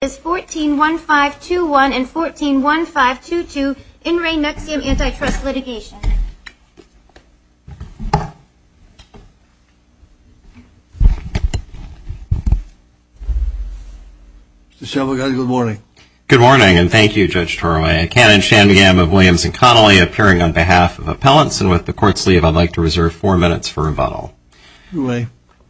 141521 and 141522 in re Nexium Antitrust litigation. Good morning. Good morning and thank you Judge Toroway. Canon Shan Gam of Williams and Connolly appearing on behalf of appellants and with the court's leave I'd like to reserve four minutes for rebuttal. May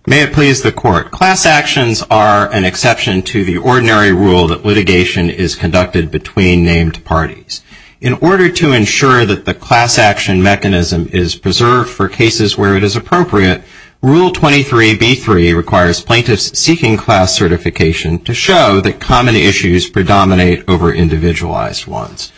it please the court. Class actions are an exception to the ordinary rule that litigation is conducted between named parties. In order to ensure that the class action mechanism is preserved for cases where it is appropriate, Rule 23b3 requires plaintiffs seeking class certification to show that common issues predominate over individualized ones.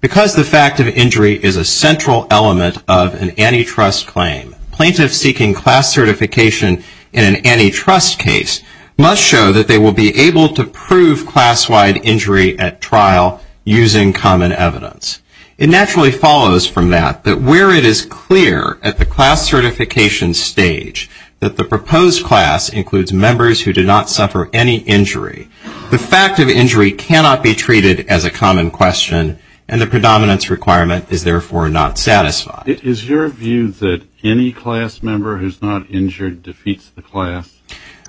Because the fact of injury is a central element of an antitrust claim, Plaintiffs seeking class certification in an antitrust case must show that they will be able to prove class-wide injury at trial using common evidence. It naturally follows from that that where it is clear at the class certification stage that the proposed class includes members who did not suffer any injury, the fact of injury cannot be treated as a common question and the predominance requirement is therefore not satisfied. Is your view that any class member who is not injured defeats the class?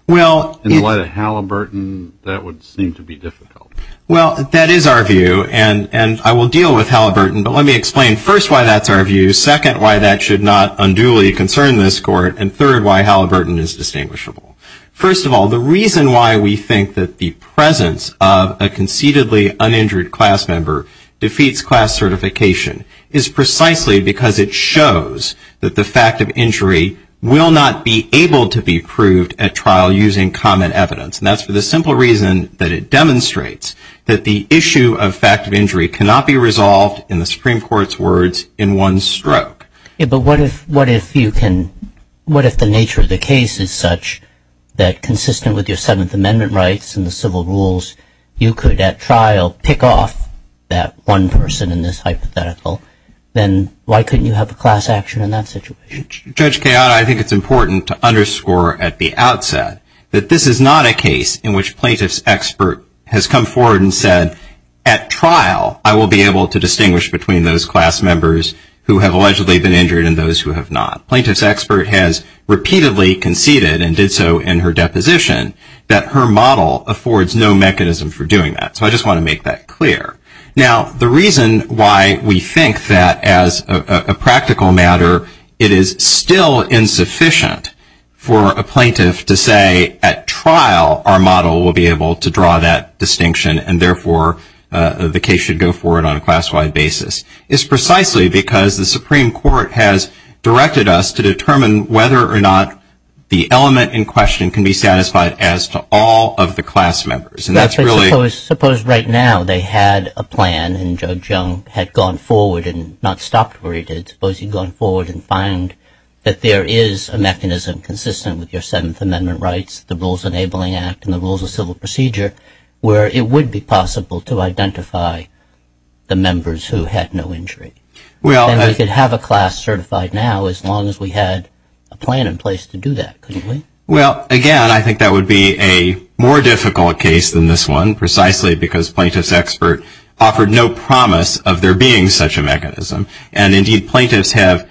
In the light of Halliburton, that would seem to be difficult. Well, that is our view and I will deal with Halliburton, but let me explain first why that's our view, second why that should not unduly concern this court, and third why Halliburton is distinguishable. First of all, the reason why we think that the presence of a conceitedly uninjured class member defeats class certification is precisely because it shows that the fact of injury will not be able to be proved at trial using common evidence, and that's for the simple reason that it demonstrates that the issue of fact of injury cannot be resolved, in the Supreme Court's words, in one stroke. But what if the nature of the case is such that consistent with your Seventh Amendment rights and the civil rules, you could at trial pick off that one person in this hypothetical, then why couldn't you have a class action in that situation? Judge Kayada, I think it's important to underscore at the outset that this is not a case in which plaintiff's expert has come forward and said, at trial I will be able to distinguish between those class members who have allegedly been injured and those who have not. Plaintiff's expert has repeatedly conceded, and did so in her deposition, that her model affords no mechanism for doing that, so I just want to make that clear. Now, the reason why we think that, as a practical matter, it is still insufficient for a plaintiff to say, at trial, our model will be able to draw that distinction, and therefore the case should go forward on a class-wide basis, is precisely because the Supreme Court has directed us to determine whether or not the element in question can be satisfied as to all of the class members, and that's really... Suppose right now they had a plan, and Judge Young had gone forward and not stopped where he did, suppose he'd gone forward and found that there is a mechanism consistent with your Seventh Amendment rights, the Rules Enabling Act and the Rules of Civil Procedure, where it would be possible to identify the members who had no injury. Then we could have a class certified now, as long as we had a plan in place to do that, couldn't we? Well, again, I think that would be a more difficult case than this one, precisely because plaintiff's expert offered no promise of there being such a mechanism, and indeed plaintiffs have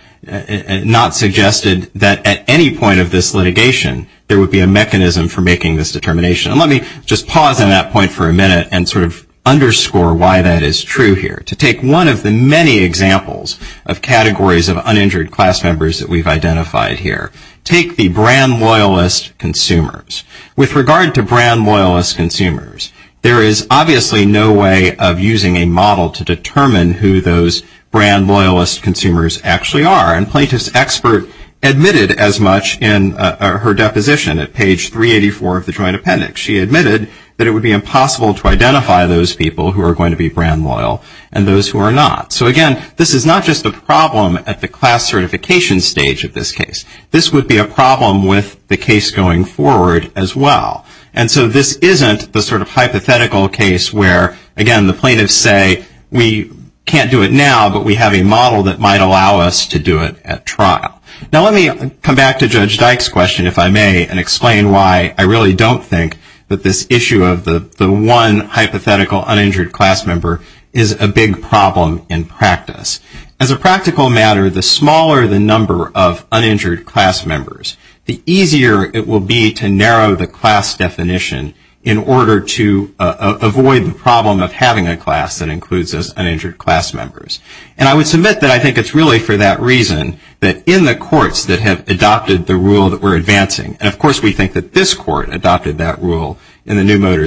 not suggested that at any point of this litigation there would be a mechanism for making this determination. And let me just pause on that point for a minute and sort of underscore why that is true here. To take one of the many examples of categories of uninjured class members that we've identified here, take the brand loyalist consumers. With regard to brand loyalist consumers, there is obviously no way of using a model to determine who those brand loyalist consumers actually are, and plaintiff's expert admitted as much in her deposition at page 384 of the joint appendix. She admitted that it would be impossible to identify those people who are going to be brand loyal and those who are not. So again, this is not just a problem at the class certification stage of this case. This would be a problem with the case going forward as well. And so this isn't the sort of hypothetical case where, again, the plaintiffs say, we can't do it now, but we have a model that might allow us to do it at trial. Now let me come back to Judge Dyke's question, if I may, and explain why I really don't think that this issue of the one hypothetical uninjured class member is a big problem in practice. As a practical matter, the smaller the number of uninjured class members, the easier it will be to narrow the class definition in order to avoid the problem of having a class that includes uninjured class members. And I would submit that I think it's really for that reason that in the courts that have adopted the rule that we're advancing, and of course we think that this court adopted that rule in the new motor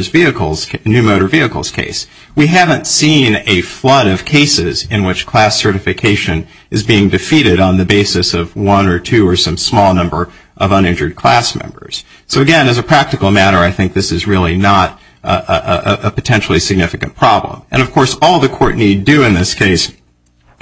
vehicles case, we haven't seen a flood of cases in which class certification is being defeated on the basis of one or two or some small number of uninjured class members. So again, as a practical matter, I think this is really not a potentially significant problem. And of course, all the court need do in this case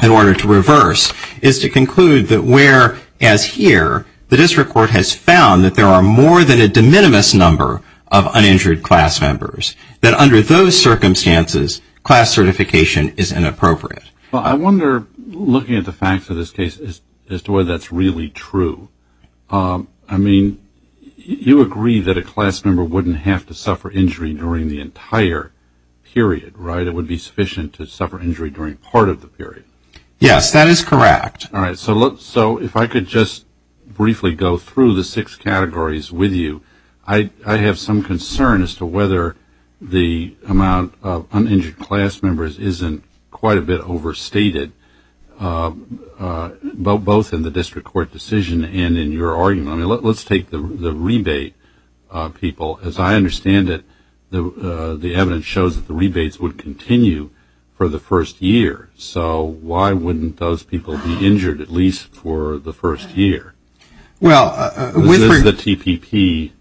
in order to reverse is to conclude that whereas here, the district court has found that there are more than a de minimis number of uninjured class members, that under those circumstances, class certification is inappropriate. Well, I wonder, looking at the facts of this case, as to whether that's really true. I mean, you agree that a class member wouldn't have to suffer injury during the entire period, right? It would be sufficient to suffer injury during part of the period. Yes, that is correct. All right. So if I could just briefly go through the six categories with you. I have some concern as to whether the amount of uninjured class members isn't quite a bit overstated, both in the district court decision and in your argument. I mean, let's take the rebate people. As I understand it, the evidence shows that the rebates would continue for the first year. So why wouldn't those people be injured at least for the first year? This is the TPP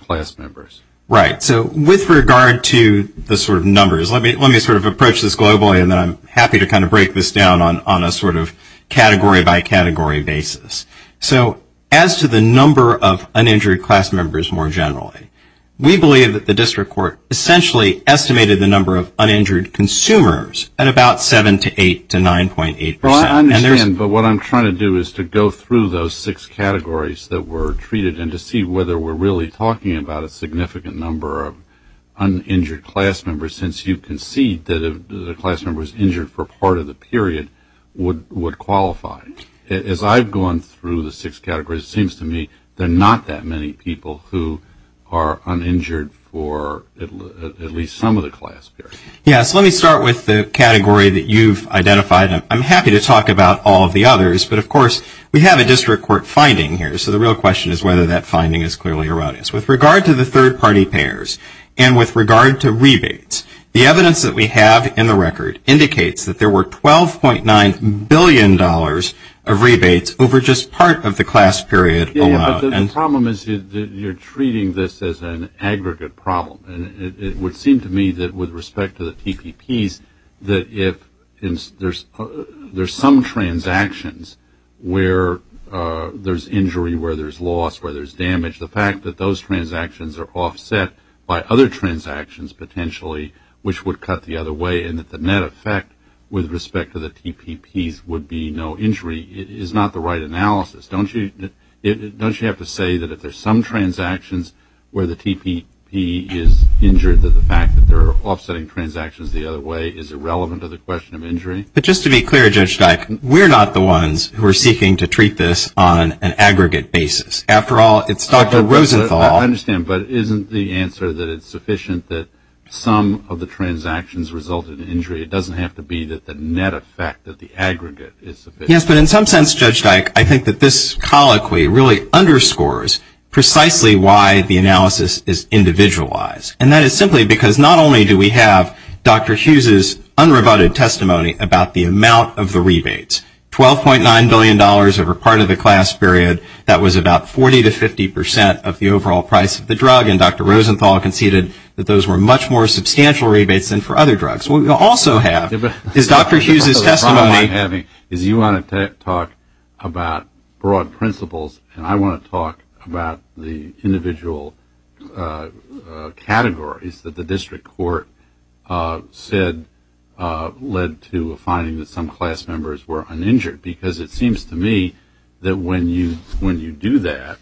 class members. Right. So with regard to the sort of numbers, let me sort of approach this globally, and then I'm happy to kind of break this down on a sort of category by category basis. So as to the number of uninjured class members more generally, we believe that the district court essentially estimated the number of uninjured consumers at about 7 to 8 to 9.8%. Well, I understand, but what I'm trying to do is to go through those six categories that were treated and to see whether we're really talking about a significant number of uninjured class members, since you concede that the class members injured for part of the period would qualify. As I've gone through the six categories, it seems to me there are not that many people who are uninjured for at least some of the class period. Yes. Let me start with the category that you've identified. I'm happy to talk about all of the others, but, of course, we have a district court finding here, so the real question is whether that finding is clearly erroneous. With regard to the third-party payers and with regard to rebates, the evidence that we have in the record indicates that there were $12.9 billion of rebates over just part of the class period alone. Yes, but the problem is you're treating this as an aggregate problem, and it would seem to me that with respect to the TPPs that if there's some transactions where there's injury, where there's loss, where there's damage, the fact that those transactions are offset by other transactions potentially which would cut the other way and that the net effect with respect to the TPPs would be no injury is not the right analysis. Don't you have to say that if there's some transactions where the TPP is injured, that the fact that they're offsetting transactions the other way is irrelevant to the question of injury? But just to be clear, Judge Dyck, we're not the ones who are seeking to treat this on an aggregate basis. After all, it's Dr. Rosenthal. I understand, but isn't the answer that it's sufficient that some of the transactions result in injury? It doesn't have to be that the net effect of the aggregate is sufficient. Yes, but in some sense, Judge Dyck, I think that this colloquy really underscores precisely why the analysis is individualized, and that is simply because not only do we have Dr. Hughes' unrebutted testimony about the amount of the rebates, $12.9 billion over part of the class period. That was about 40 to 50 percent of the overall price of the drug, and Dr. Rosenthal conceded that those were much more substantial rebates than for other drugs. What we also have is Dr. Hughes' testimony. The problem I'm having is you want to talk about broad principles, and I want to talk about the individual categories that the district court said led to a finding that some class members were uninjured because it seems to me that when you do that,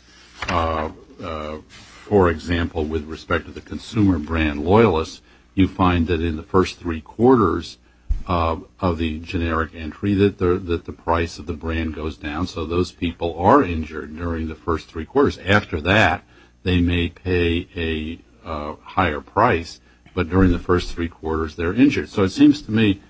for example, with respect to the consumer brand loyalists, you find that in the first three quarters of the generic entry that the price of the brand goes down, so those people are injured during the first three quarters. After that, they may pay a higher price, but during the first three quarters, they're injured. So it seems to me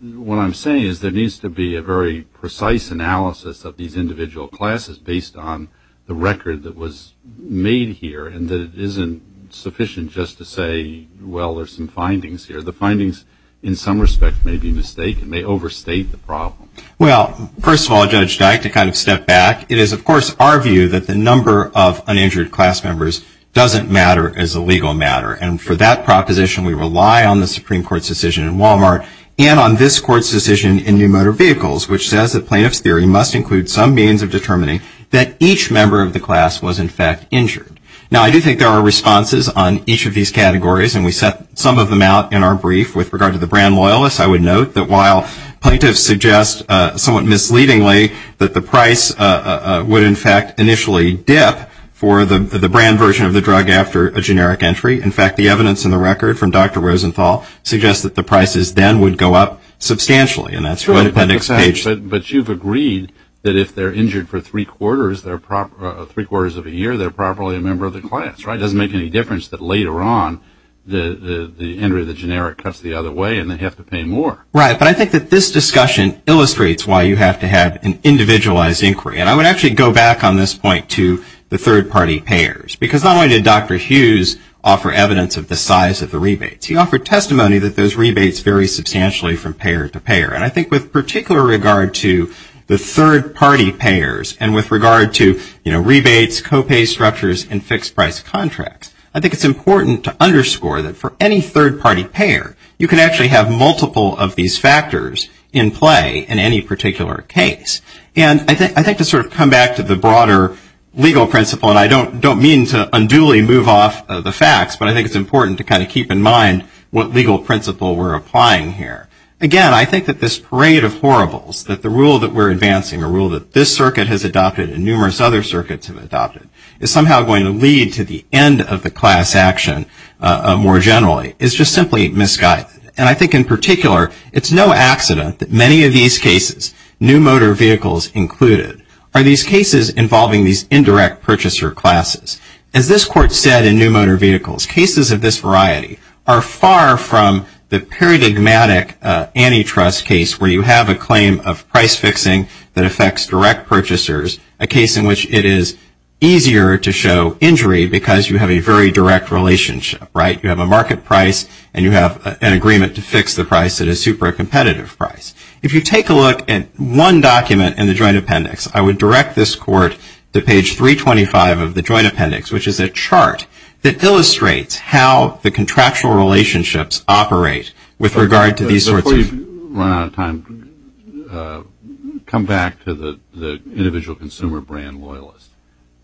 what I'm saying is there needs to be a very precise analysis of these individual classes based on the record that was made here and that it isn't sufficient just to say, well, there's some findings here. The findings in some respect may be mistaken, may overstate the problem. Well, first of all, Judge Dyke, to kind of step back, it is, of course, our view that the number of uninjured class members doesn't matter as a legal matter, and for that proposition, we rely on the Supreme Court's decision in Walmart and on this Court's decision in New Motor Vehicles, which says that plaintiff's theory must include some means of determining that each member of the class was, in fact, injured. Now, I do think there are responses on each of these categories, and we set some of them out in our brief with regard to the brand loyalists. I would note that while plaintiffs suggest somewhat misleadingly that the price would, in fact, initially dip for the brand version of the drug after a generic entry, in fact, the evidence in the record from Dr. Rosenthal suggests that the prices then would go up substantially, and that's what Appendix H says. But you've agreed that if they're injured for three quarters of a year, they're probably a member of the class, right? It doesn't make any difference that later on the entry of the generic cuts the other way and they have to pay more. Right, but I think that this discussion illustrates why you have to have an individualized inquiry, and I would actually go back on this point to the third-party payers, because not only did Dr. Hughes offer evidence of the size of the rebates, he offered testimony that those rebates vary substantially from payer to payer. And I think with particular regard to the third-party payers and with regard to, you know, rebates, co-pay structures, and fixed-price contracts, I think it's important to underscore that for any third-party payer, you can actually have multiple of these factors in play in any particular case. And I think to sort of come back to the broader legal principle, and I don't mean to unduly move off the facts, but I think it's important to kind of keep in mind what legal principle we're applying here. Again, I think that this parade of horribles, that the rule that we're advancing, a rule that this circuit has adopted and numerous other circuits have adopted, is somehow going to lead to the end of the class action more generally, is just simply misguided. And I think in particular, it's no accident that many of these cases, new motor vehicles included, are these cases involving these indirect purchaser classes. As this court said in new motor vehicles, cases of this variety are far from the paradigmatic antitrust case, where you have a claim of price fixing that affects direct purchasers, a case in which it is easier to show injury because you have a very direct relationship, right? You have a market price and you have an agreement to fix the price at a super competitive price. If you take a look at one document in the joint appendix, I would direct this court to page 325 of the joint appendix, which is a chart that illustrates how the contractual relationships operate with regard to these sorts of- Before you run out of time, come back to the individual consumer brand loyalist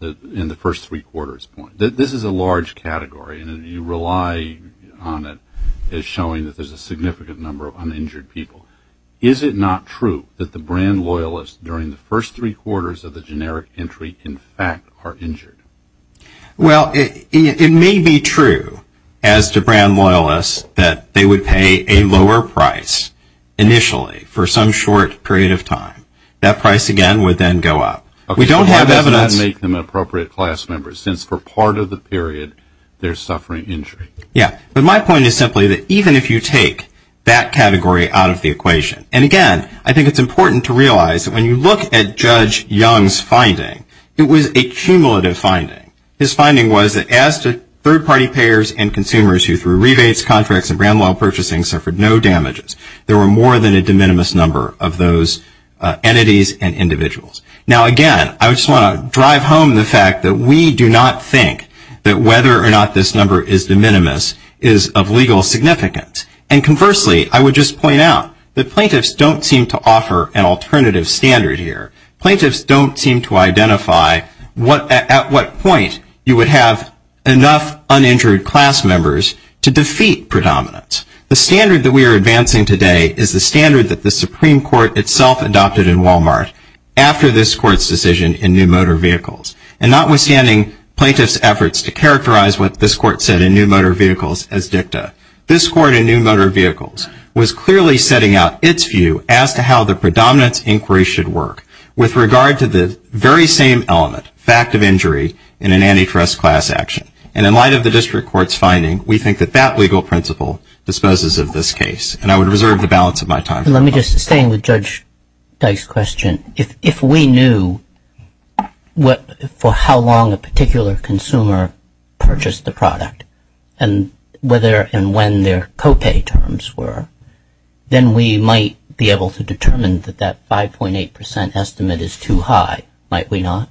in the first three quarters point. This is a large category and you rely on it as showing that there's a significant number of uninjured people. Is it not true that the brand loyalists during the first three quarters of the generic entry in fact are injured? Well, it may be true as to brand loyalists that they would pay a lower price initially for some short period of time. That price again would then go up. We don't have evidence- Okay, so why does that make them appropriate class members since for part of the period they're suffering injury? Yeah, but my point is simply that even if you take that category out of the equation, and again I think it's important to realize that when you look at Judge Young's finding, it was a cumulative finding. His finding was that as to third party payers and consumers who through rebates, contracts, and brand loyal purchasing suffered no damages, there were more than a de minimis number of those entities and individuals. Now again, I just want to drive home the fact that we do not think that whether or not this number is de minimis is of legal significance. And conversely, I would just point out that plaintiffs don't seem to offer an alternative standard here. Plaintiffs don't seem to identify at what point you would have enough uninjured class members to defeat predominance. The standard that we are advancing today is the standard that the Supreme Court itself adopted in Walmart after this court's decision in New Motor Vehicles. And notwithstanding plaintiffs' efforts to characterize what this court said in New Motor Vehicles as dicta, this court in New Motor Vehicles was clearly setting out its view as to how the predominance inquiry should work with regard to the very same element, fact of injury, in an antitrust class action. And in light of the district court's finding, we think that that legal principle disposes of this case. And I would reserve the balance of my time. Let me just stay with Judge Dice's question. If we knew for how long a particular consumer purchased the product, and whether and when their copay terms were, then we might be able to determine that that 5.8 percent estimate is too high, might we not?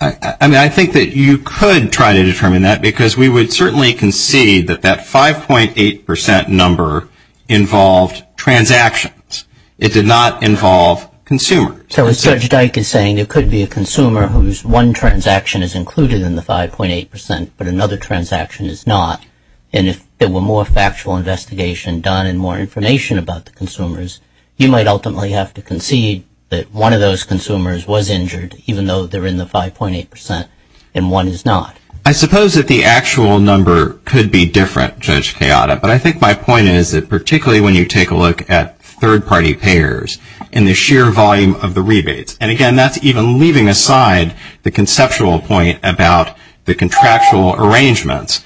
I mean, I think that you could try to determine that, because we would certainly concede that that 5.8 percent number involved transactions. It did not involve consumers. So as Judge Dice is saying, there could be a consumer whose one transaction is included in the 5.8 percent, but another transaction is not. And if there were more factual investigation done and more information about the consumers, you might ultimately have to concede that one of those consumers was injured, even though they're in the 5.8 percent, and one is not. I suppose that the actual number could be different, Judge Chiata, but I think my point is that particularly when you take a look at third-party payers and the sheer volume of the rebates, and again that's even leaving aside the conceptual point about the contractual arrangements,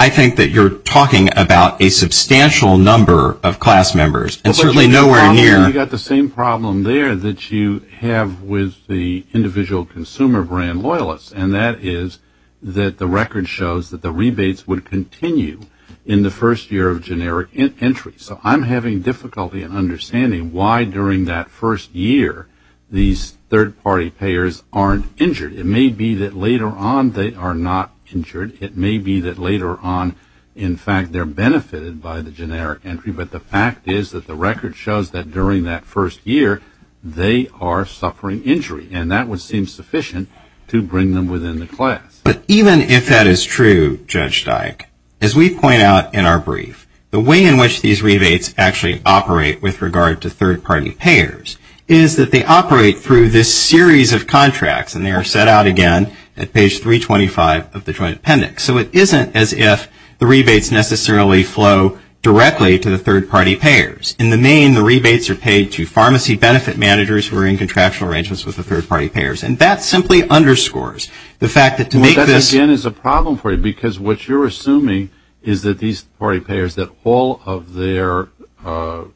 I think that you're talking about a substantial number of class members, and certainly nowhere near. You've got the same problem there that you have with the individual consumer brand loyalists, and that is that the record shows that the rebates would continue in the first year of generic entry. So I'm having difficulty in understanding why during that first year these third-party payers aren't injured. It may be that later on they are not injured. It may be that later on, in fact, they're benefited by the generic entry, but the fact is that the record shows that during that first year they are suffering injury, and that would seem sufficient to bring them within the class. But even if that is true, Judge Dyke, as we point out in our brief, the way in which these rebates actually operate with regard to third-party payers is that they operate through this series of contracts, and they are set out again at page 325 of the Joint Appendix. So it isn't as if the rebates necessarily flow directly to the third-party payers. In the main, the rebates are paid to pharmacy benefit managers who are in contractual arrangements with the third-party payers, and that simply underscores the fact that to make this – Well, that again is a problem for you, because what you're assuming is that these third-party payers, that all of their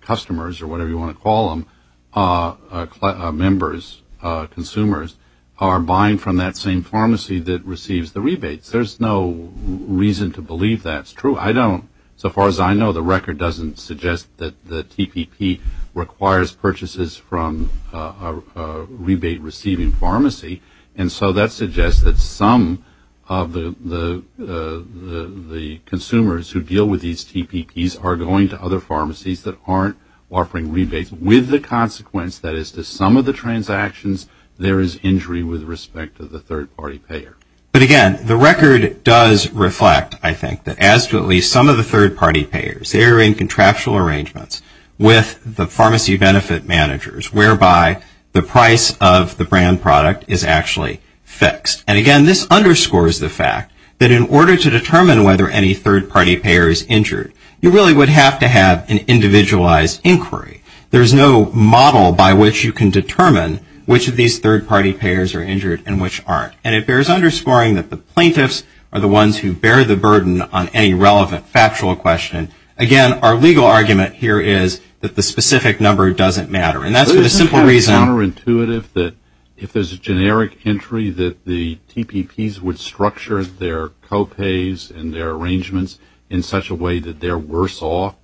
customers or whatever you want to call them, members, consumers, are buying from that same pharmacy that receives the rebates. There's no reason to believe that's true. I don't. So far as I know, the record doesn't suggest that the TPP requires purchases from a rebate-receiving pharmacy, and so that suggests that some of the consumers who deal with these TPPs are going to other pharmacies that aren't offering rebates. With the consequence that as to some of the transactions, there is injury with respect to the third-party payer. But again, the record does reflect, I think, that as to at least some of the third-party payers, they are in contractual arrangements with the pharmacy benefit managers, whereby the price of the brand product is actually fixed. And again, this underscores the fact that in order to determine whether any third-party payer is injured, you really would have to have an individualized inquiry. There is no model by which you can determine which of these third-party payers are injured and which aren't, and it bears underscoring that the plaintiffs are the ones who bear the burden on any relevant factual question. Again, our legal argument here is that the specific number doesn't matter, and that's for the simple reason. Isn't it counterintuitive that if there's a generic entry, that the TPPs would structure their co-pays and their arrangements in such a way that they're worse off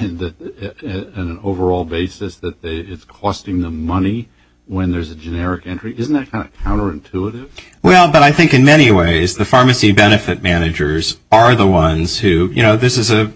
on an overall basis, that it's costing them money when there's a generic entry? Isn't that kind of counterintuitive? Well, but I think in many ways the pharmacy benefit managers are the ones who, you know, this is an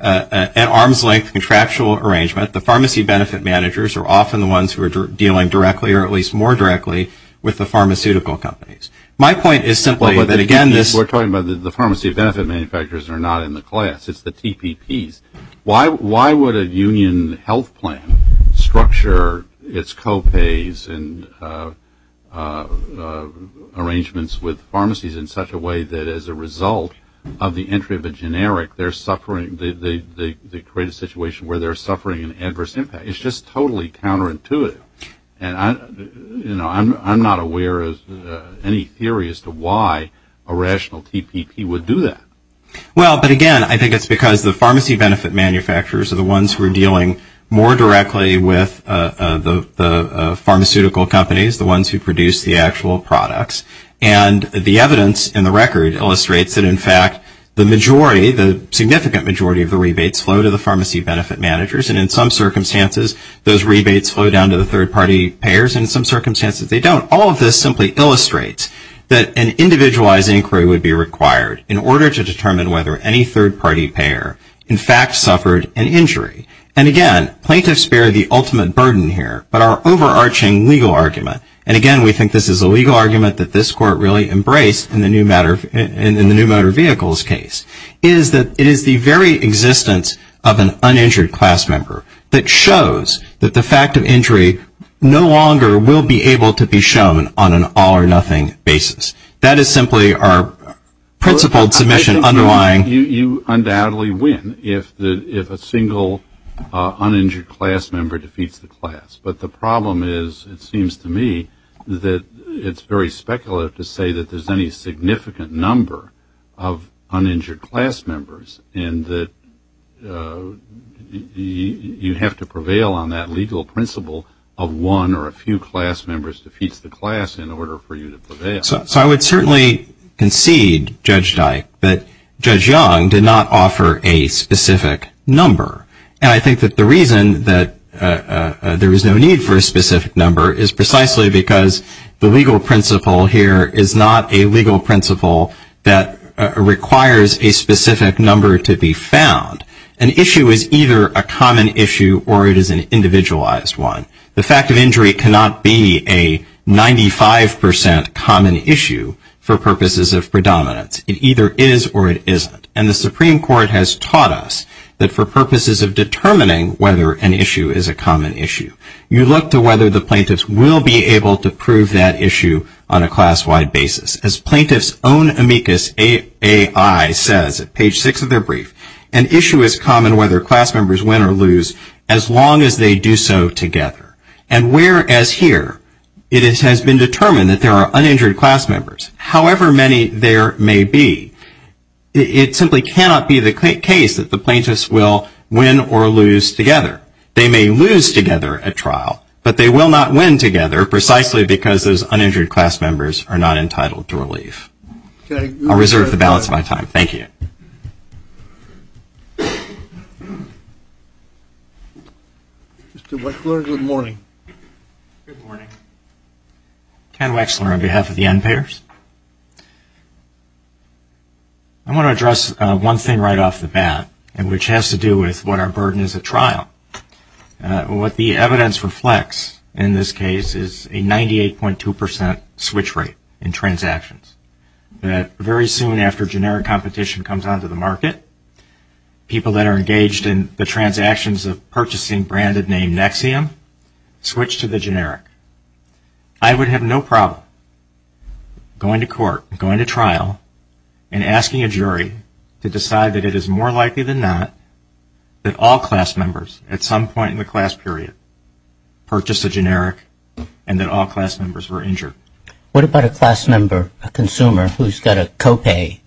arm's-length contractual arrangement. The pharmacy benefit managers are often the ones who are dealing directly or at least more directly with the pharmaceutical companies. My point is simply that, again, this – We're talking about the pharmacy benefit manufacturers are not in the class. It's the TPPs. Why would a union health plan structure its co-pays and arrangements with pharmacies in such a way that, as a result of the entry of a generic, they're suffering – they create a situation where they're suffering an adverse impact? It's just totally counterintuitive. And, you know, I'm not aware of any theory as to why a rational TPP would do that. Well, but, again, I think it's because the pharmacy benefit manufacturers are the ones who are dealing more directly with the pharmaceutical companies, the ones who produce the actual products. And the evidence in the record illustrates that, in fact, the majority, the significant majority of the rebates flow to the pharmacy benefit managers, and in some circumstances those rebates flow down to the third-party payers and in some circumstances they don't. All of this simply illustrates that an individualized inquiry would be required in order to determine whether any third-party payer, in fact, suffered an injury. And, again, plaintiffs bear the ultimate burden here, but our overarching legal argument – and, again, we think this is a legal argument that this Court really embraced in the new motor vehicles case – is that it is the very existence of an uninjured class member that shows that the fact of injury no longer will be able to be shown on an all-or-nothing basis. That is simply our principled submission underlying – I think you undoubtedly win if a single uninjured class member defeats the class. But the problem is, it seems to me, that it's very speculative to say that there's any significant number of uninjured class members and that you have to prevail on that legal principle of one or a few class members defeats the class in order for you to prevail. So I would certainly concede, Judge Dyke, that Judge Young did not offer a specific number. And I think that the reason that there is no need for a specific number is precisely because the legal principle here is not a legal principle that requires a specific number to be found. An issue is either a common issue or it is an individualized one. The fact of injury cannot be a 95% common issue for purposes of predominance. It either is or it isn't. And the Supreme Court has taught us that for purposes of determining whether an issue is a common issue, you look to whether the plaintiffs will be able to prove that issue on a class-wide basis. As Plaintiff's Own Amicus A.I. says at page 6 of their brief, an issue is common whether class members win or lose as long as they do so together. And whereas here it has been determined that there are uninjured class members, however many there may be, it simply cannot be the case that the plaintiffs will win or lose together. They may lose together at trial, but they will not win together precisely because those uninjured class members are not entitled to relief. I'll reserve the balance of my time. Mr. Wechsler, good morning. Good morning. Ken Wechsler on behalf of the NPAERS. I want to address one thing right off the bat, which has to do with what our burden is at trial. What the evidence reflects in this case is a 98.2% switch rate in transactions. Very soon after generic competition comes onto the market, people that are engaged in the transactions of purchasing branded name Nexium switch to the generic. I would have no problem going to court, going to trial, and asking a jury to decide that it is more likely than not that all class members at some point in the class period purchased a generic and that all class members were injured. What about a class member, a consumer, who's got a copay?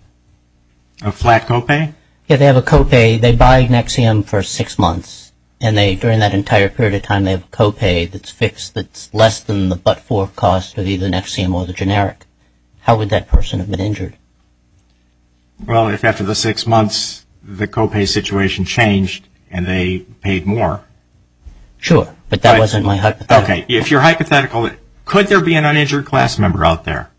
A flat copay? Yes, they have a copay. They buy Nexium for six months, and during that entire period of time, they have a copay that's fixed that's less than the but-for cost of either Nexium or the generic. How would that person have been injured? Well, if after the six months, the copay situation changed and they paid more. Sure, but that wasn't my hypothetical. Okay, if you're hypothetical, could there be an uninjured class member out there?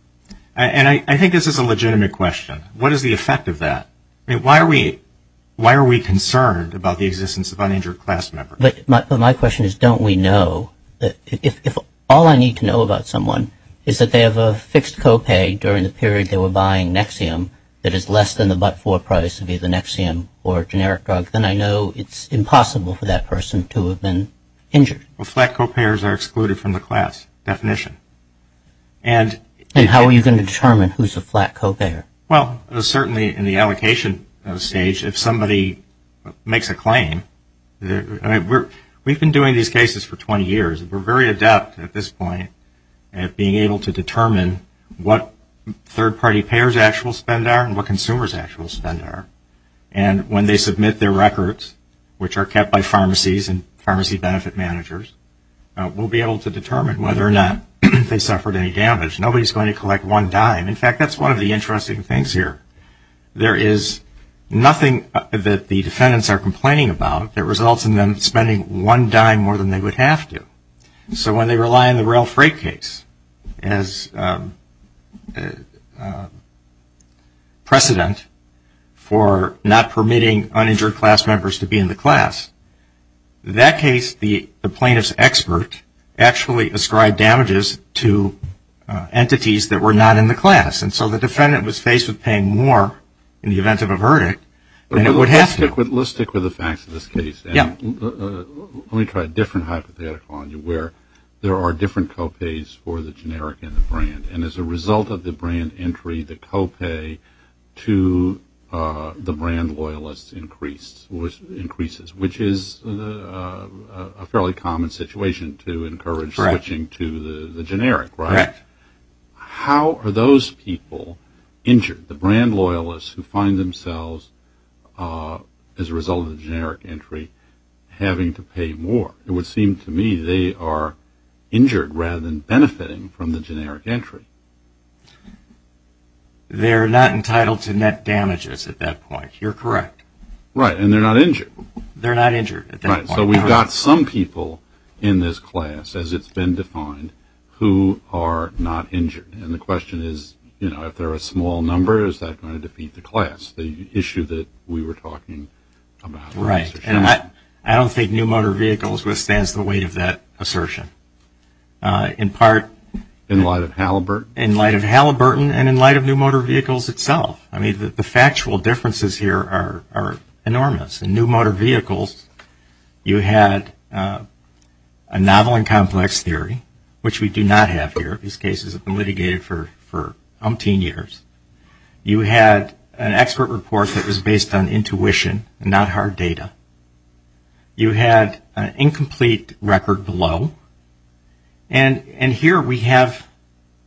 And I think this is a legitimate question. What is the effect of that? I mean, why are we concerned about the existence of uninjured class members? But my question is, don't we know? If all I need to know about someone is that they have a fixed copay during the period they were buying Nexium that is less than the but-for price of either Nexium or a generic drug, then I know it's impossible for that person to have been injured. Well, flat copayers are excluded from the class definition. And how are you going to determine who's a flat copayer? Well, certainly in the allocation stage, if somebody makes a claim, I mean, we've been doing these cases for 20 years. We're very adept at this point at being able to determine what third-party payers' actual spend are and what consumers' actual spend are. And when they submit their records, which are kept by pharmacies and pharmacy benefit managers, we'll be able to determine whether or not they suffered any damage. Nobody's going to collect one dime. In fact, that's one of the interesting things here. There is nothing that the defendants are complaining about that results in them spending one dime more than they would have to. So when they rely on the rail freight case as precedent for not permitting uninjured class members to be in the class, that case the plaintiff's expert actually ascribed damages to entities that were not in the class. And so the defendant was faced with paying more in the event of a verdict than it would have to. Let's stick with the facts of this case. Yeah. Let me try a different hypothetical on you where there are different co-pays for the generic and the brand. And as a result of the brand entry, the co-pay to the brand loyalists increases, which is a fairly common situation to encourage switching to the generic, right? Correct. How are those people injured, the brand loyalists, who find themselves as a result of the generic entry having to pay more? It would seem to me they are injured rather than benefiting from the generic entry. They're not entitled to net damages at that point. You're correct. Right. They're not injured at that point. All right. So we've got some people in this class, as it's been defined, who are not injured. And the question is, you know, if they're a small number, is that going to defeat the class, the issue that we were talking about? Right. And I don't think new motor vehicles withstands the weight of that assertion, in part. In light of Halliburton? In light of Halliburton and in light of new motor vehicles itself. I mean, the factual differences here are enormous. In new motor vehicles, you had a novel and complex theory, which we do not have here. These cases have been litigated for umpteen years. You had an expert report that was based on intuition and not hard data. You had an incomplete record below. And here we have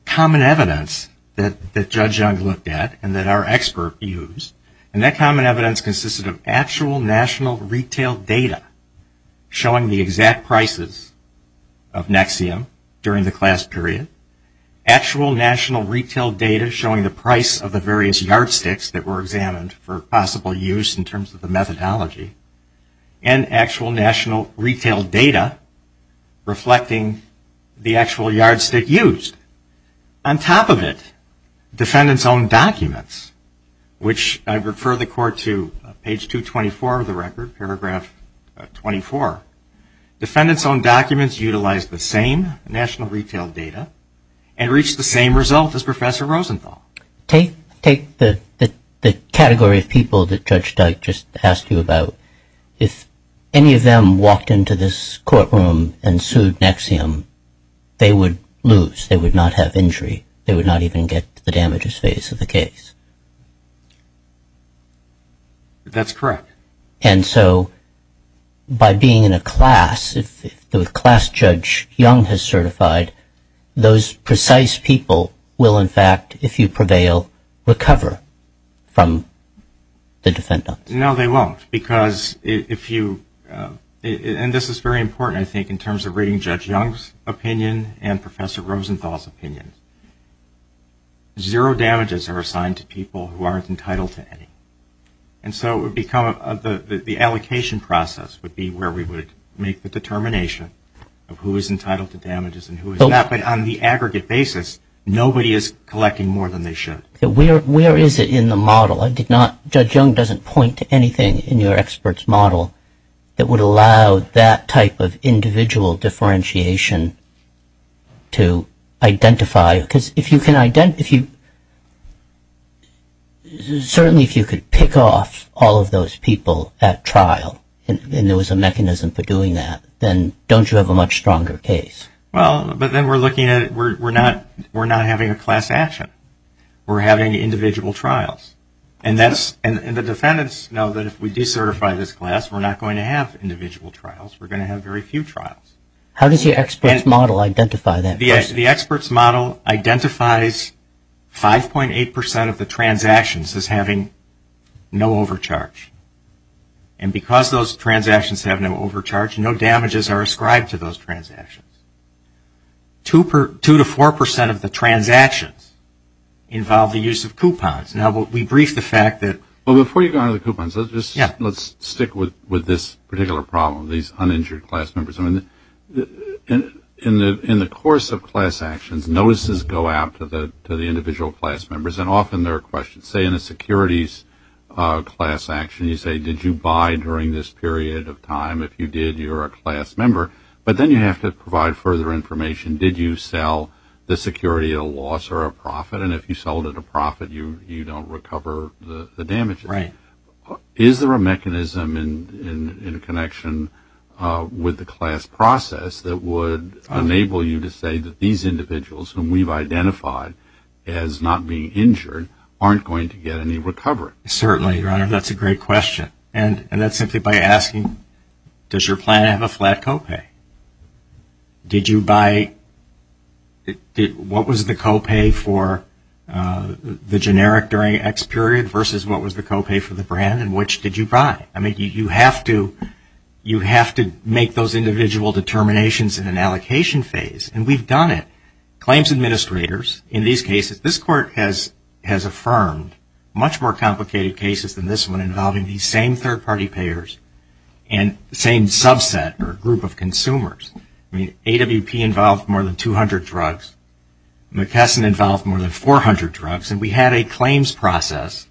common evidence that Judge Young looked at and that our expert used. And that common evidence consisted of actual national retail data showing the exact prices of Nexium during the class period, actual national retail data showing the price of the various yardsticks that were examined for possible use in terms of the methodology, and actual national retail data reflecting the actual yardstick used. On top of it, defendants' own documents, which I refer the Court to page 224 of the record, paragraph 24. Defendants' own documents utilized the same national retail data and reached the same result as Professor Rosenthal. Take the category of people that Judge Dyke just asked you about. If any of them walked into this courtroom and sued Nexium, they would lose. They would not have injury. They would not even get to the damages phase of the case. That's correct. And so by being in a class, if the class Judge Young has certified, those precise people will, in fact, if you prevail, recover from the defendants. No, they won't. Because if you, and this is very important, I think, in terms of reading Judge Young's opinion and Professor Rosenthal's opinion. Zero damages are assigned to people who aren't entitled to any. And so it would become the allocation process would be where we would make the determination of who is entitled to damages and who is not. But on the aggregate basis, nobody is collecting more than they should. Where is it in the model? I did not, Judge Young doesn't point to anything in your expert's model that would allow that type of individual differentiation to identify. Because if you can, certainly if you could pick off all of those people at trial and there was a mechanism for doing that, then don't you have a much stronger case? Well, but then we're looking at, we're not having a class action. We're having individual trials. And the defendants know that if we decertify this class, we're not going to have individual trials. We're going to have very few trials. How does your expert's model identify that? The expert's model identifies 5.8% of the transactions as having no overcharge. And because those transactions have no overcharge, no damages are ascribed to those transactions. Two to 4% of the transactions involve the use of coupons. Now, we briefed the fact that. Well, before you go on to the coupons, let's stick with this particular problem, these uninjured class members. In the course of class actions, notices go out to the individual class members and often there are questions. Say in a securities class action, you say, did you buy during this period of time? If you did, you're a class member. But then you have to provide further information. Did you sell the security at a loss or a profit? And if you sold at a profit, you don't recover the damages. Right. Is there a mechanism in connection with the class process that would enable you to say that these individuals whom we've identified as not being injured aren't going to get any recovery? Certainly, Your Honor. That's a great question. And that's simply by asking, does your plan have a flat copay? What was the copay for the generic during X period versus what was the copay for the brand and which did you buy? I mean, you have to make those individual determinations in an allocation phase and we've done it. Claims administrators, in these cases, this Court has affirmed much more complicated cases than this one involving these same third-party payers and the same subset or group of consumers. I mean, AWP involved more than 200 drugs. McKesson involved more than 400 drugs. And we had a claims process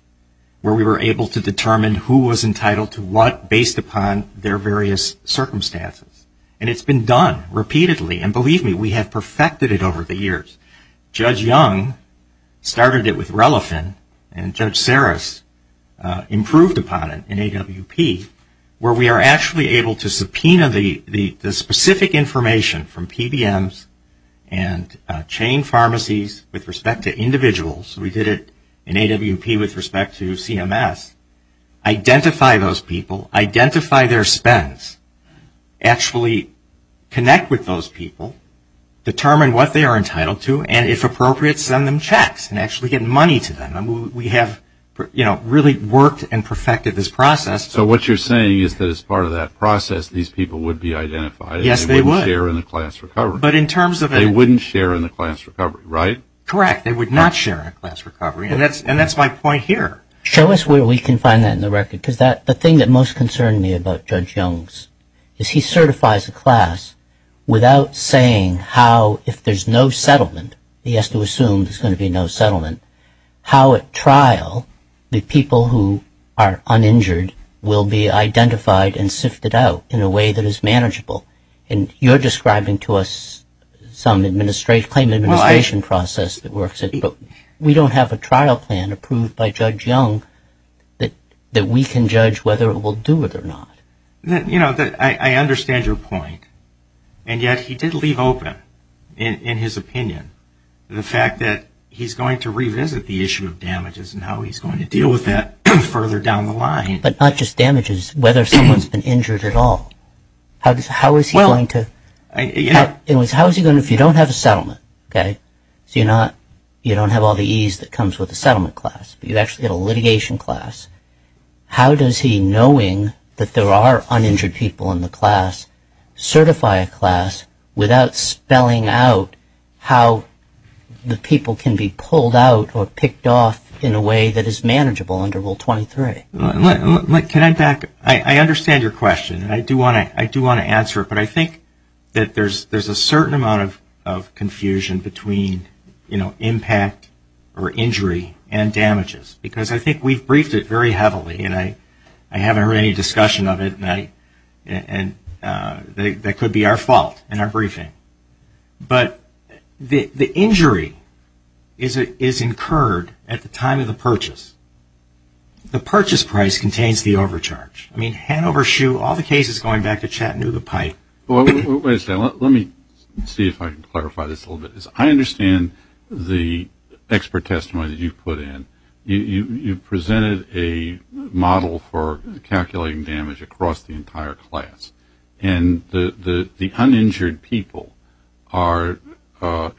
where we were able to determine who was entitled to what based upon their various circumstances. And it's been done repeatedly. And believe me, we have perfected it over the years. Judge Young started it with Relafin and Judge Saris improved upon it in AWP where we are actually able to subpoena the specific information from PBMs and chain pharmacies with respect to individuals. We did it in AWP with respect to CMS. Identify those people, identify their spends, actually connect with those people, determine what they are entitled to, and if appropriate, send them checks and actually get money to them. We have, you know, really worked and perfected this process. So what you're saying is that as part of that process, these people would be identified. Yes, they would. And they wouldn't share in the class recovery. But in terms of it. They wouldn't share in the class recovery, right? Correct. They would not share in the class recovery. And that's my point here. Show us where we can find that in the record because the thing that most concerned me about is he certifies a class without saying how if there's no settlement, he has to assume there's going to be no settlement, how at trial the people who are uninjured will be identified and sifted out in a way that is manageable. And you're describing to us some claim administration process that works. But we don't have a trial plan approved by Judge Young that we can judge whether it will do it or not. I understand your point. And yet he did leave open, in his opinion, the fact that he's going to revisit the issue of damages and how he's going to deal with that further down the line. But not just damages. Whether someone's been injured at all. How is he going to, if you don't have a settlement, okay, so you don't have all the ease that comes with a settlement class, but you actually have a litigation class, how does he, knowing that there are uninjured people in the class, certify a class without spelling out how the people can be pulled out or picked off in a way that is manageable under Rule 23? Look, can I back up? I understand your question. I do want to answer it. But I think that there's a certain amount of confusion between, you know, impact or injury and damages. Because I think we've briefed it very heavily. And I haven't heard any discussion of it. And that could be our fault in our briefing. But the injury is incurred at the time of the purchase. The purchase price contains the overcharge. I mean, Hanover Shoe, all the cases going back to Chattanooga Pipe. Let me see if I can clarify this a little bit. I understand the expert testimony that you put in. You presented a model for calculating damage across the entire class. And the uninjured people are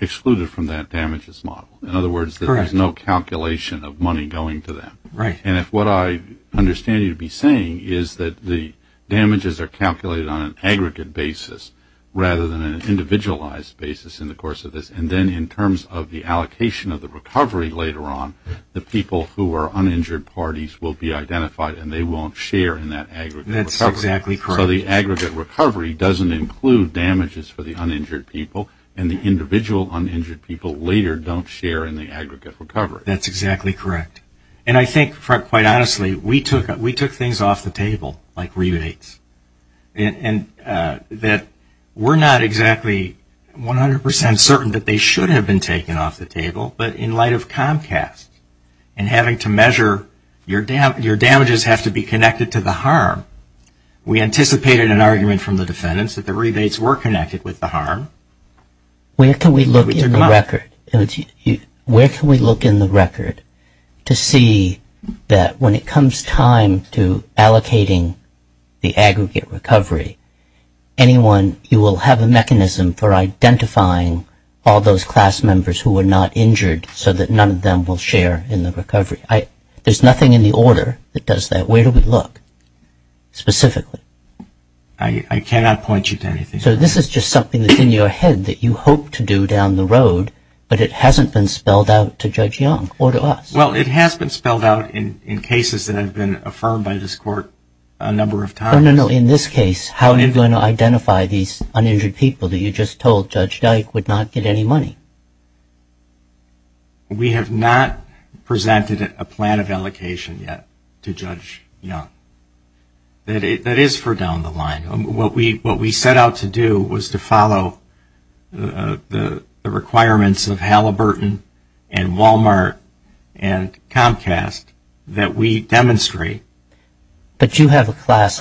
excluded from that damages model. In other words, there's no calculation of money going to them. Right. And if what I understand you to be saying is that the damages are calculated on an aggregate basis, rather than an individualized basis in the course of this, and then in terms of the allocation of the recovery later on, the people who are uninjured parties will be identified and they won't share in that aggregate recovery. That's exactly correct. So the aggregate recovery doesn't include damages for the uninjured people. And the individual uninjured people later don't share in the aggregate recovery. That's exactly correct. And I think, quite honestly, we took things off the table, like rebates, and that we're not exactly 100% certain that they should have been taken off the table. But in light of Comcast and having to measure your damages have to be connected to the harm, we anticipated an argument from the defendants that the rebates were connected with the harm. Where can we look in the record to see that when it comes time to allocating the aggregate recovery, anyone, you will have a mechanism for identifying all those class members who were not injured so that none of them will share in the recovery. There's nothing in the order that does that. Where do we look specifically? I cannot point you to anything. So this is just something that's in your head that you hope to do down the road, but it hasn't been spelled out to Judge Young or to us. Well, it has been spelled out in cases that have been affirmed by this court a number of times. No, no, no. In this case, how are you going to identify these uninjured people that you just told Judge Dyke would not get any money? We have not presented a plan of allocation yet to Judge Young. That is for down the line. What we set out to do was to follow the requirements of Halliburton and Walmart and Comcast that we demonstrate. But you have a class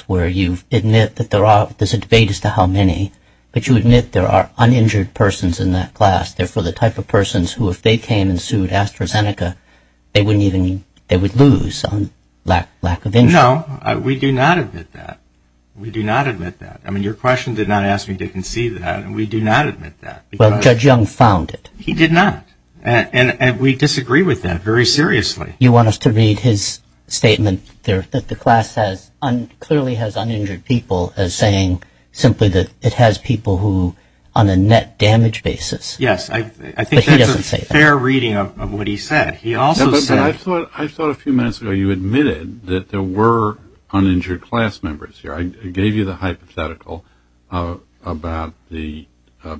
where you admit that there's a debate as to how many, but you admit there are uninjured persons in that class, therefore the type of persons who if they came and sued AstraZeneca, they would lose on lack of injury. No, we do not admit that. We do not admit that. I mean, your question did not ask me to concede that, and we do not admit that. Well, Judge Young found it. He did not, and we disagree with that very seriously. You want us to read his statement that the class clearly has uninjured people as saying simply that it has people who on a net damage basis. Yes, I think that's a fair reading of what he said. I thought a few minutes ago you admitted that there were uninjured class members here. I gave you the hypothetical about the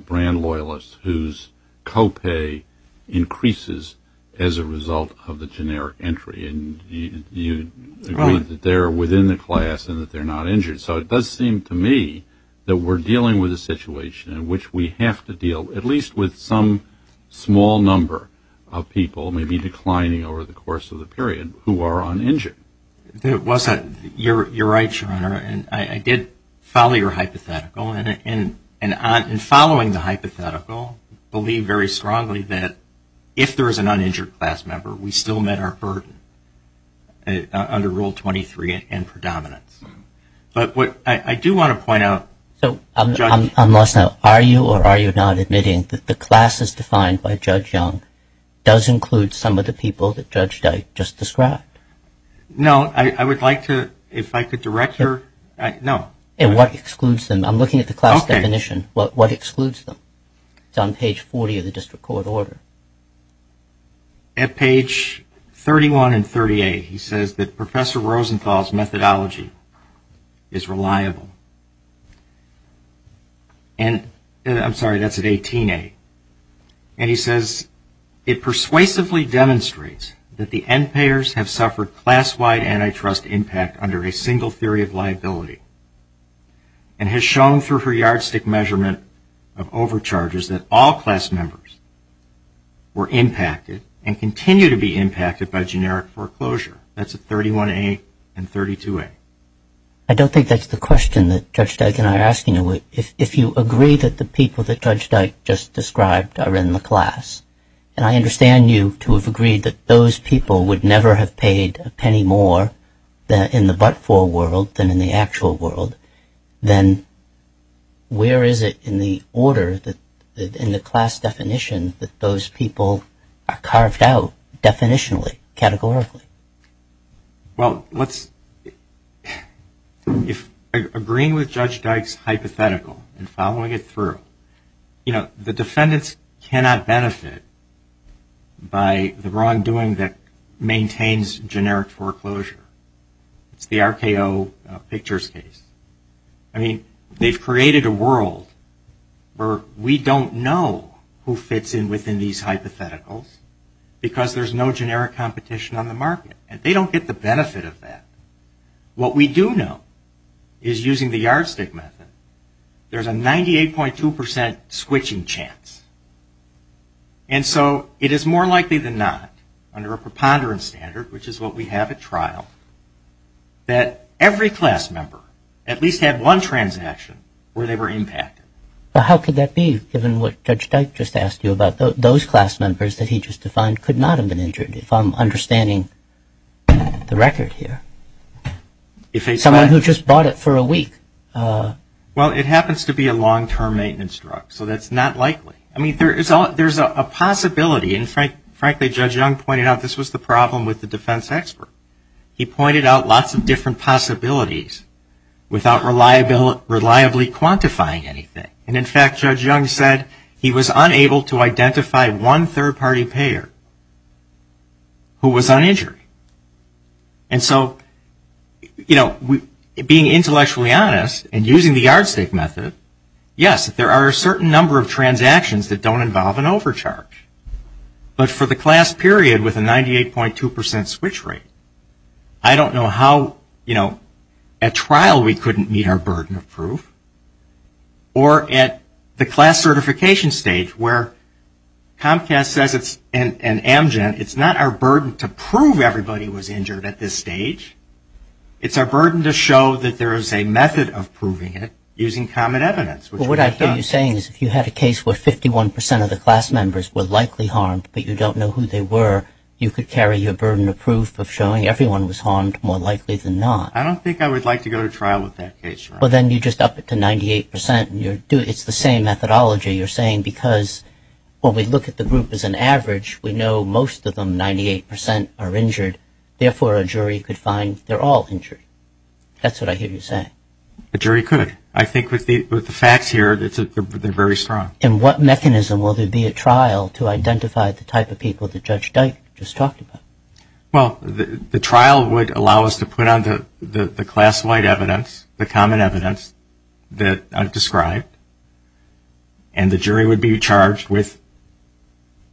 brand loyalists whose co-pay increases as a result of the generic entry, and you agreed that they're within the class and that they're not injured. So it does seem to me that we're dealing with a situation in which we have to deal, at least with some small number of people, maybe declining over the course of the period, who are uninjured. You're right, Your Honor, and I did follow your hypothetical, and in following the hypothetical, I believe very strongly that if there is an uninjured class member, we still met our burden under Rule 23 and predominance. But what I do want to point out. I'm lost now. Are you or are you not admitting that the class as defined by Judge Young does include some of the people that Judge Dyke just described? No, I would like to, if I could direct your, no. And what excludes them? I'm looking at the class definition. What excludes them? It's on page 40 of the district court order. At page 31 and 38, he says that Professor Rosenthal's methodology is reliable. And I'm sorry, that's at 18A. And he says, it persuasively demonstrates that the end payers have suffered class-wide antitrust impact under a single theory of liability and has shown through her yardstick measurement of overcharges that all class members were impacted and continue to be impacted by generic foreclosure. That's at 31A and 32A. I don't think that's the question that Judge Dyke and I are asking. If you agree that the people that Judge Dyke just described are in the class, and I understand you to have agreed that those people would never have paid a penny more in the but-for world than in the actual world, then where is it in the order, in the class definition, that those people are carved out definitionally, categorically? Well, agreeing with Judge Dyke's hypothetical and following it through, you know, the defendants cannot benefit by the wrongdoing that maintains generic foreclosure. It's the RKO Pictures case. I mean, they've created a world where we don't know who fits in within these hypotheticals because there's no generic competition on the market, and they don't get the benefit of that. What we do know is, using the yardstick method, there's a 98.2% switching chance. And so it is more likely than not, under a preponderance standard, which is what we have at trial, that every class member at least had one transaction where they were impacted. Well, how could that be, given what Judge Dyke just asked you about? Those class members that he just defined could not have been injured, if I'm understanding the record here. Someone who just bought it for a week. Well, it happens to be a long-term maintenance drug, so that's not likely. I mean, there's a possibility, and frankly, Judge Young pointed out, this was the problem with the defense expert. He pointed out lots of different possibilities without reliably quantifying anything. And in fact, Judge Young said he was unable to identify one third-party payer who was uninjured. And so, you know, being intellectually honest and using the yardstick method, yes, there are a certain number of transactions that don't involve an overcharge. But for the class period with a 98.2 percent switch rate, I don't know how, you know, at trial we couldn't meet our burden of proof. Or at the class certification stage, where Comcast says it's an amgen, it's not our burden to prove everybody was injured at this stage. It's our burden to show that there is a method of proving it using common evidence, which we've done. What you're saying is if you had a case where 51 percent of the class members were likely harmed, but you don't know who they were, you could carry your burden of proof of showing everyone was harmed more likely than not. I don't think I would like to go to trial with that case, Your Honor. Well, then you just up it to 98 percent. It's the same methodology. You're saying because when we look at the group as an average, we know most of them, 98 percent, are injured. Therefore, a jury could find they're all injured. That's what I hear you saying. A jury could. I think with the facts here, they're very strong. And what mechanism will there be at trial to identify the type of people that Judge Dyke just talked about? Well, the trial would allow us to put on the class-wide evidence, the common evidence that I've described, and the jury would be charged with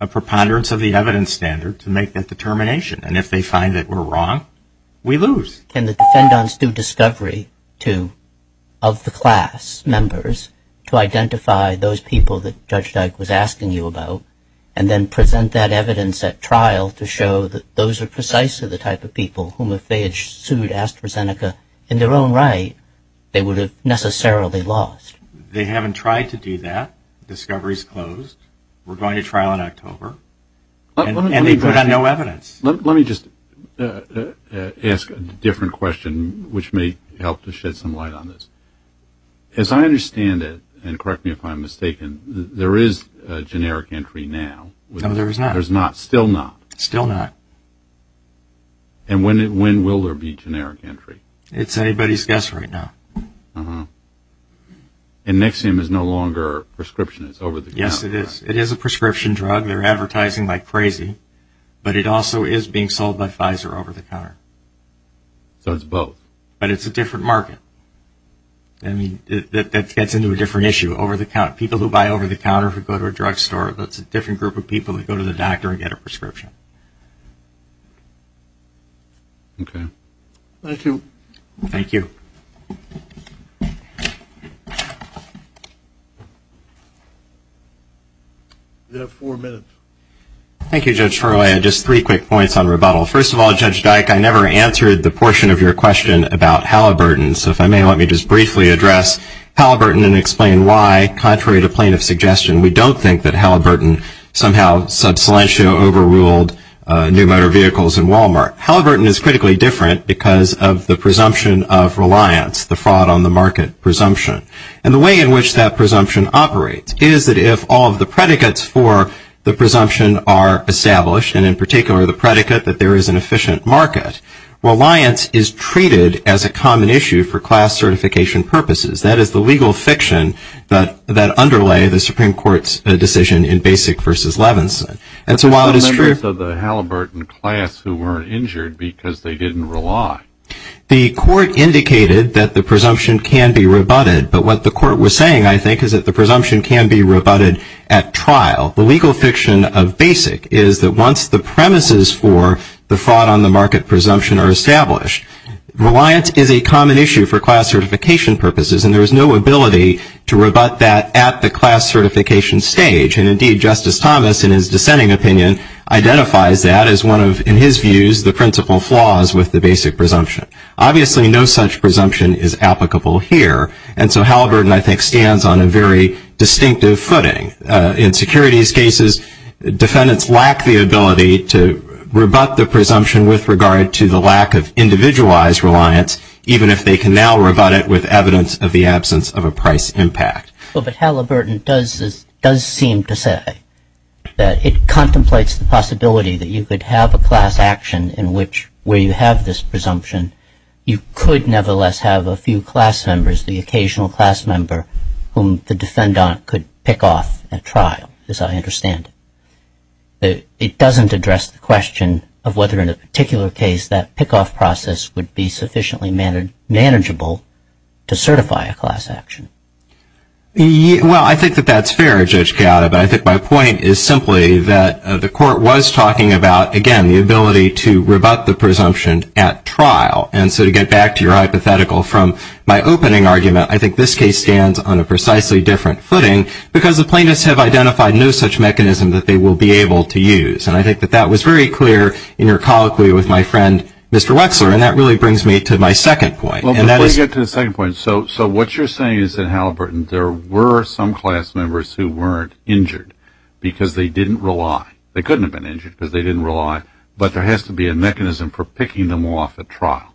a preponderance of the evidence standard to make that determination. And if they find that we're wrong, we lose. Can the defendants do discovery of the class members to identify those people that Judge Dyke was asking you about and then present that evidence at trial to show that those are precisely the type of people whom if they had sued AstraZeneca in their own right, they would have necessarily lost? They haven't tried to do that. Discovery's closed. We're going to trial in October. And they put on no evidence. Let me just ask a different question, which may help to shed some light on this. As I understand it, and correct me if I'm mistaken, there is a generic entry now. No, there is not. There's not. Still not. Still not. And when will there be generic entry? It's anybody's guess right now. And Nexium is no longer prescription. It's over the counter. Yes, it is. It is a prescription drug. They're advertising like crazy. But it also is being sold by Pfizer over the counter. So it's both. But it's a different market. That gets into a different issue. People who buy over the counter who go to a drugstore, that's a different group of people who go to the doctor and get a prescription. Okay. Thank you. Thank you. We have four minutes. Thank you, Judge Ferro. I had just three quick points on rebuttal. First of all, Judge Dyke, I never answered the portion of your question about Halliburton. So if I may, let me just briefly address Halliburton and explain why, contrary to plaintiff's suggestion, we don't think that Halliburton somehow sub silentio overruled new motor vehicles and Walmart. Halliburton is critically different because of the presumption of reliance, the fraud on the market presumption. And the way in which that presumption operates is that if all of the predicates for the presumption are established, and in particular the predicate that there is an efficient market, reliance is treated as a common issue for class certification purposes. That is the legal fiction that underlay the Supreme Court's decision in Basic v. Levinson. And so while it is true of the Halliburton class who were injured because they didn't rely, the court indicated that the presumption can be rebutted. But what the court was saying, I think, is that the presumption can be rebutted at trial. The legal fiction of Basic is that once the premises for the fraud on the market presumption are established, reliance is a common issue for class certification purposes, and there is no ability to rebut that at the class certification stage. And, indeed, Justice Thomas, in his dissenting opinion, identifies that as one of, in his views, the principal flaws with the Basic presumption. Obviously, no such presumption is applicable here. And so Halliburton, I think, stands on a very distinctive footing. In securities cases, defendants lack the ability to rebut the presumption with regard to the lack of individualized reliance, even if they can now rebut it with evidence of the absence of a price impact. Well, but Halliburton does seem to say that it contemplates the possibility that you could have a class action in which, where you have this presumption, you could nevertheless have a few class members, the occasional class member whom the defendant could pick off at trial, as I understand it. It doesn't address the question of whether, in a particular case, that pickoff process would be sufficiently manageable to certify a class action. Well, I think that that's fair, Judge Gatta, but I think my point is simply that the Court was talking about, again, the ability to rebut the presumption at trial. And so to get back to your hypothetical from my opening argument, I think this case stands on a precisely different footing, because the plaintiffs have identified no such mechanism that they will be able to use. And I think that that was very clear in your colloquy with my friend, Mr. Wexler, and that really brings me to my second point. Before you get to the second point, so what you're saying is that in Halliburton, there were some class members who weren't injured because they didn't rely. They couldn't have been injured because they didn't rely, but there has to be a mechanism for picking them off at trial.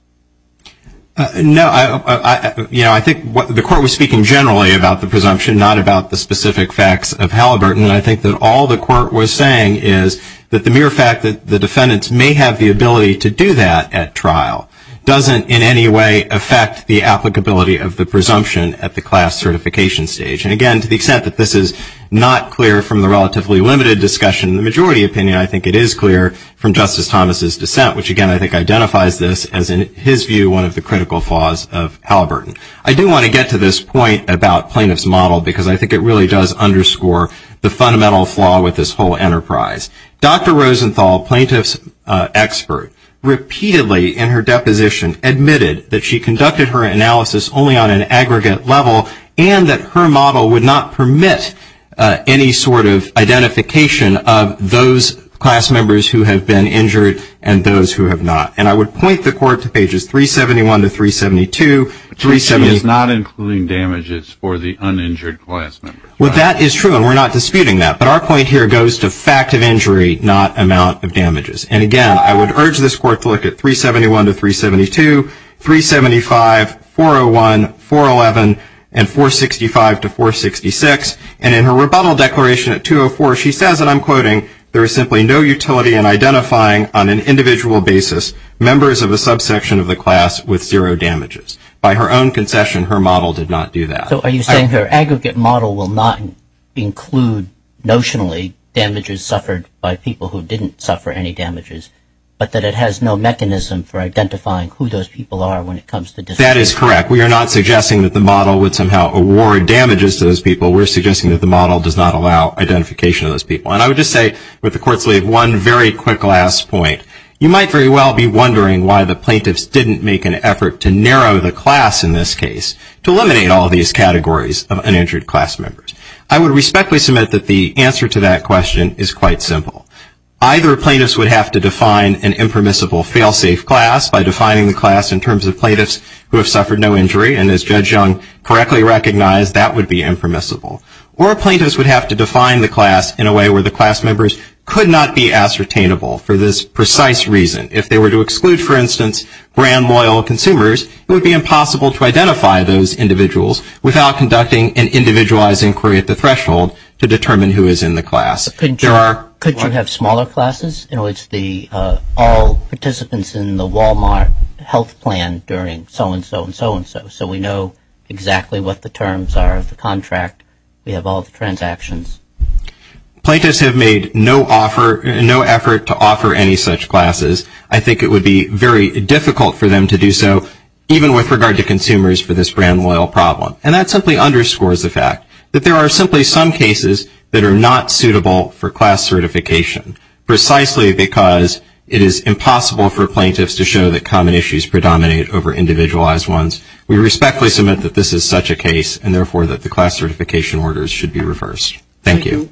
No, I think the Court was speaking generally about the presumption, not about the specific facts of Halliburton. And I think that all the Court was saying is that the mere fact that the defendants may have the ability to do that at trial doesn't in any way affect the applicability of the presumption at the class certification stage. And, again, to the extent that this is not clear from the relatively limited discussion, in the majority opinion, I think it is clear from Justice Thomas' dissent, which, again, I think identifies this as, in his view, one of the critical flaws of Halliburton. I do want to get to this point about plaintiff's model, because I think it really does underscore the fundamental flaw with this whole enterprise. Dr. Rosenthal, plaintiff's expert, repeatedly in her deposition, admitted that she conducted her analysis only on an aggregate level and that her model would not permit any sort of identification of those class members who have been injured and those who have not. And I would point the Court to pages 371 to 372. She is not including damages for the uninjured class members. Well, that is true, and we're not disputing that. But our point here goes to fact of injury, not amount of damages. And, again, I would urge this Court to look at 371 to 372, 375, 401, 411, and 465 to 466. And in her rebuttal declaration at 204, she says, and I'm quoting, there is simply no utility in identifying, on an individual basis, members of a subsection of the class with zero damages. By her own concession, her model did not do that. So are you saying her aggregate model will not include, notionally, damages suffered by people who didn't suffer any damages, but that it has no mechanism for identifying who those people are when it comes to disability? That is correct. We are not suggesting that the model would somehow award damages to those people. We're suggesting that the model does not allow identification of those people. And I would just say, with the Court's leave, one very quick last point. You might very well be wondering why the plaintiffs didn't make an effort to narrow the class in this case to eliminate all these categories of uninjured class members. I would respectfully submit that the answer to that question is quite simple. Either plaintiffs would have to define an impermissible fail-safe class by defining the class in terms of plaintiffs who have suffered no injury, and as Judge Young correctly recognized, that would be impermissible. Or plaintiffs would have to define the class in a way where the class members could not be ascertainable for this precise reason. If they were to exclude, for instance, brand loyal consumers, it would be impossible to identify those individuals without conducting an individualized inquiry at the threshold to determine who is in the class. Could you have smaller classes? You know, it's all participants in the Walmart health plan during so-and-so and so-and-so. So we know exactly what the terms are of the contract. We have all the transactions. Plaintiffs have made no effort to offer any such classes. I think it would be very difficult for them to do so, even with regard to consumers for this brand loyal problem. And that simply underscores the fact that there are simply some cases that are not suitable for class certification, precisely because it is impossible for plaintiffs to show that common issues predominate over individualized ones. We respectfully submit that this is such a case, and therefore that the class certification orders should be reversed. Thank you.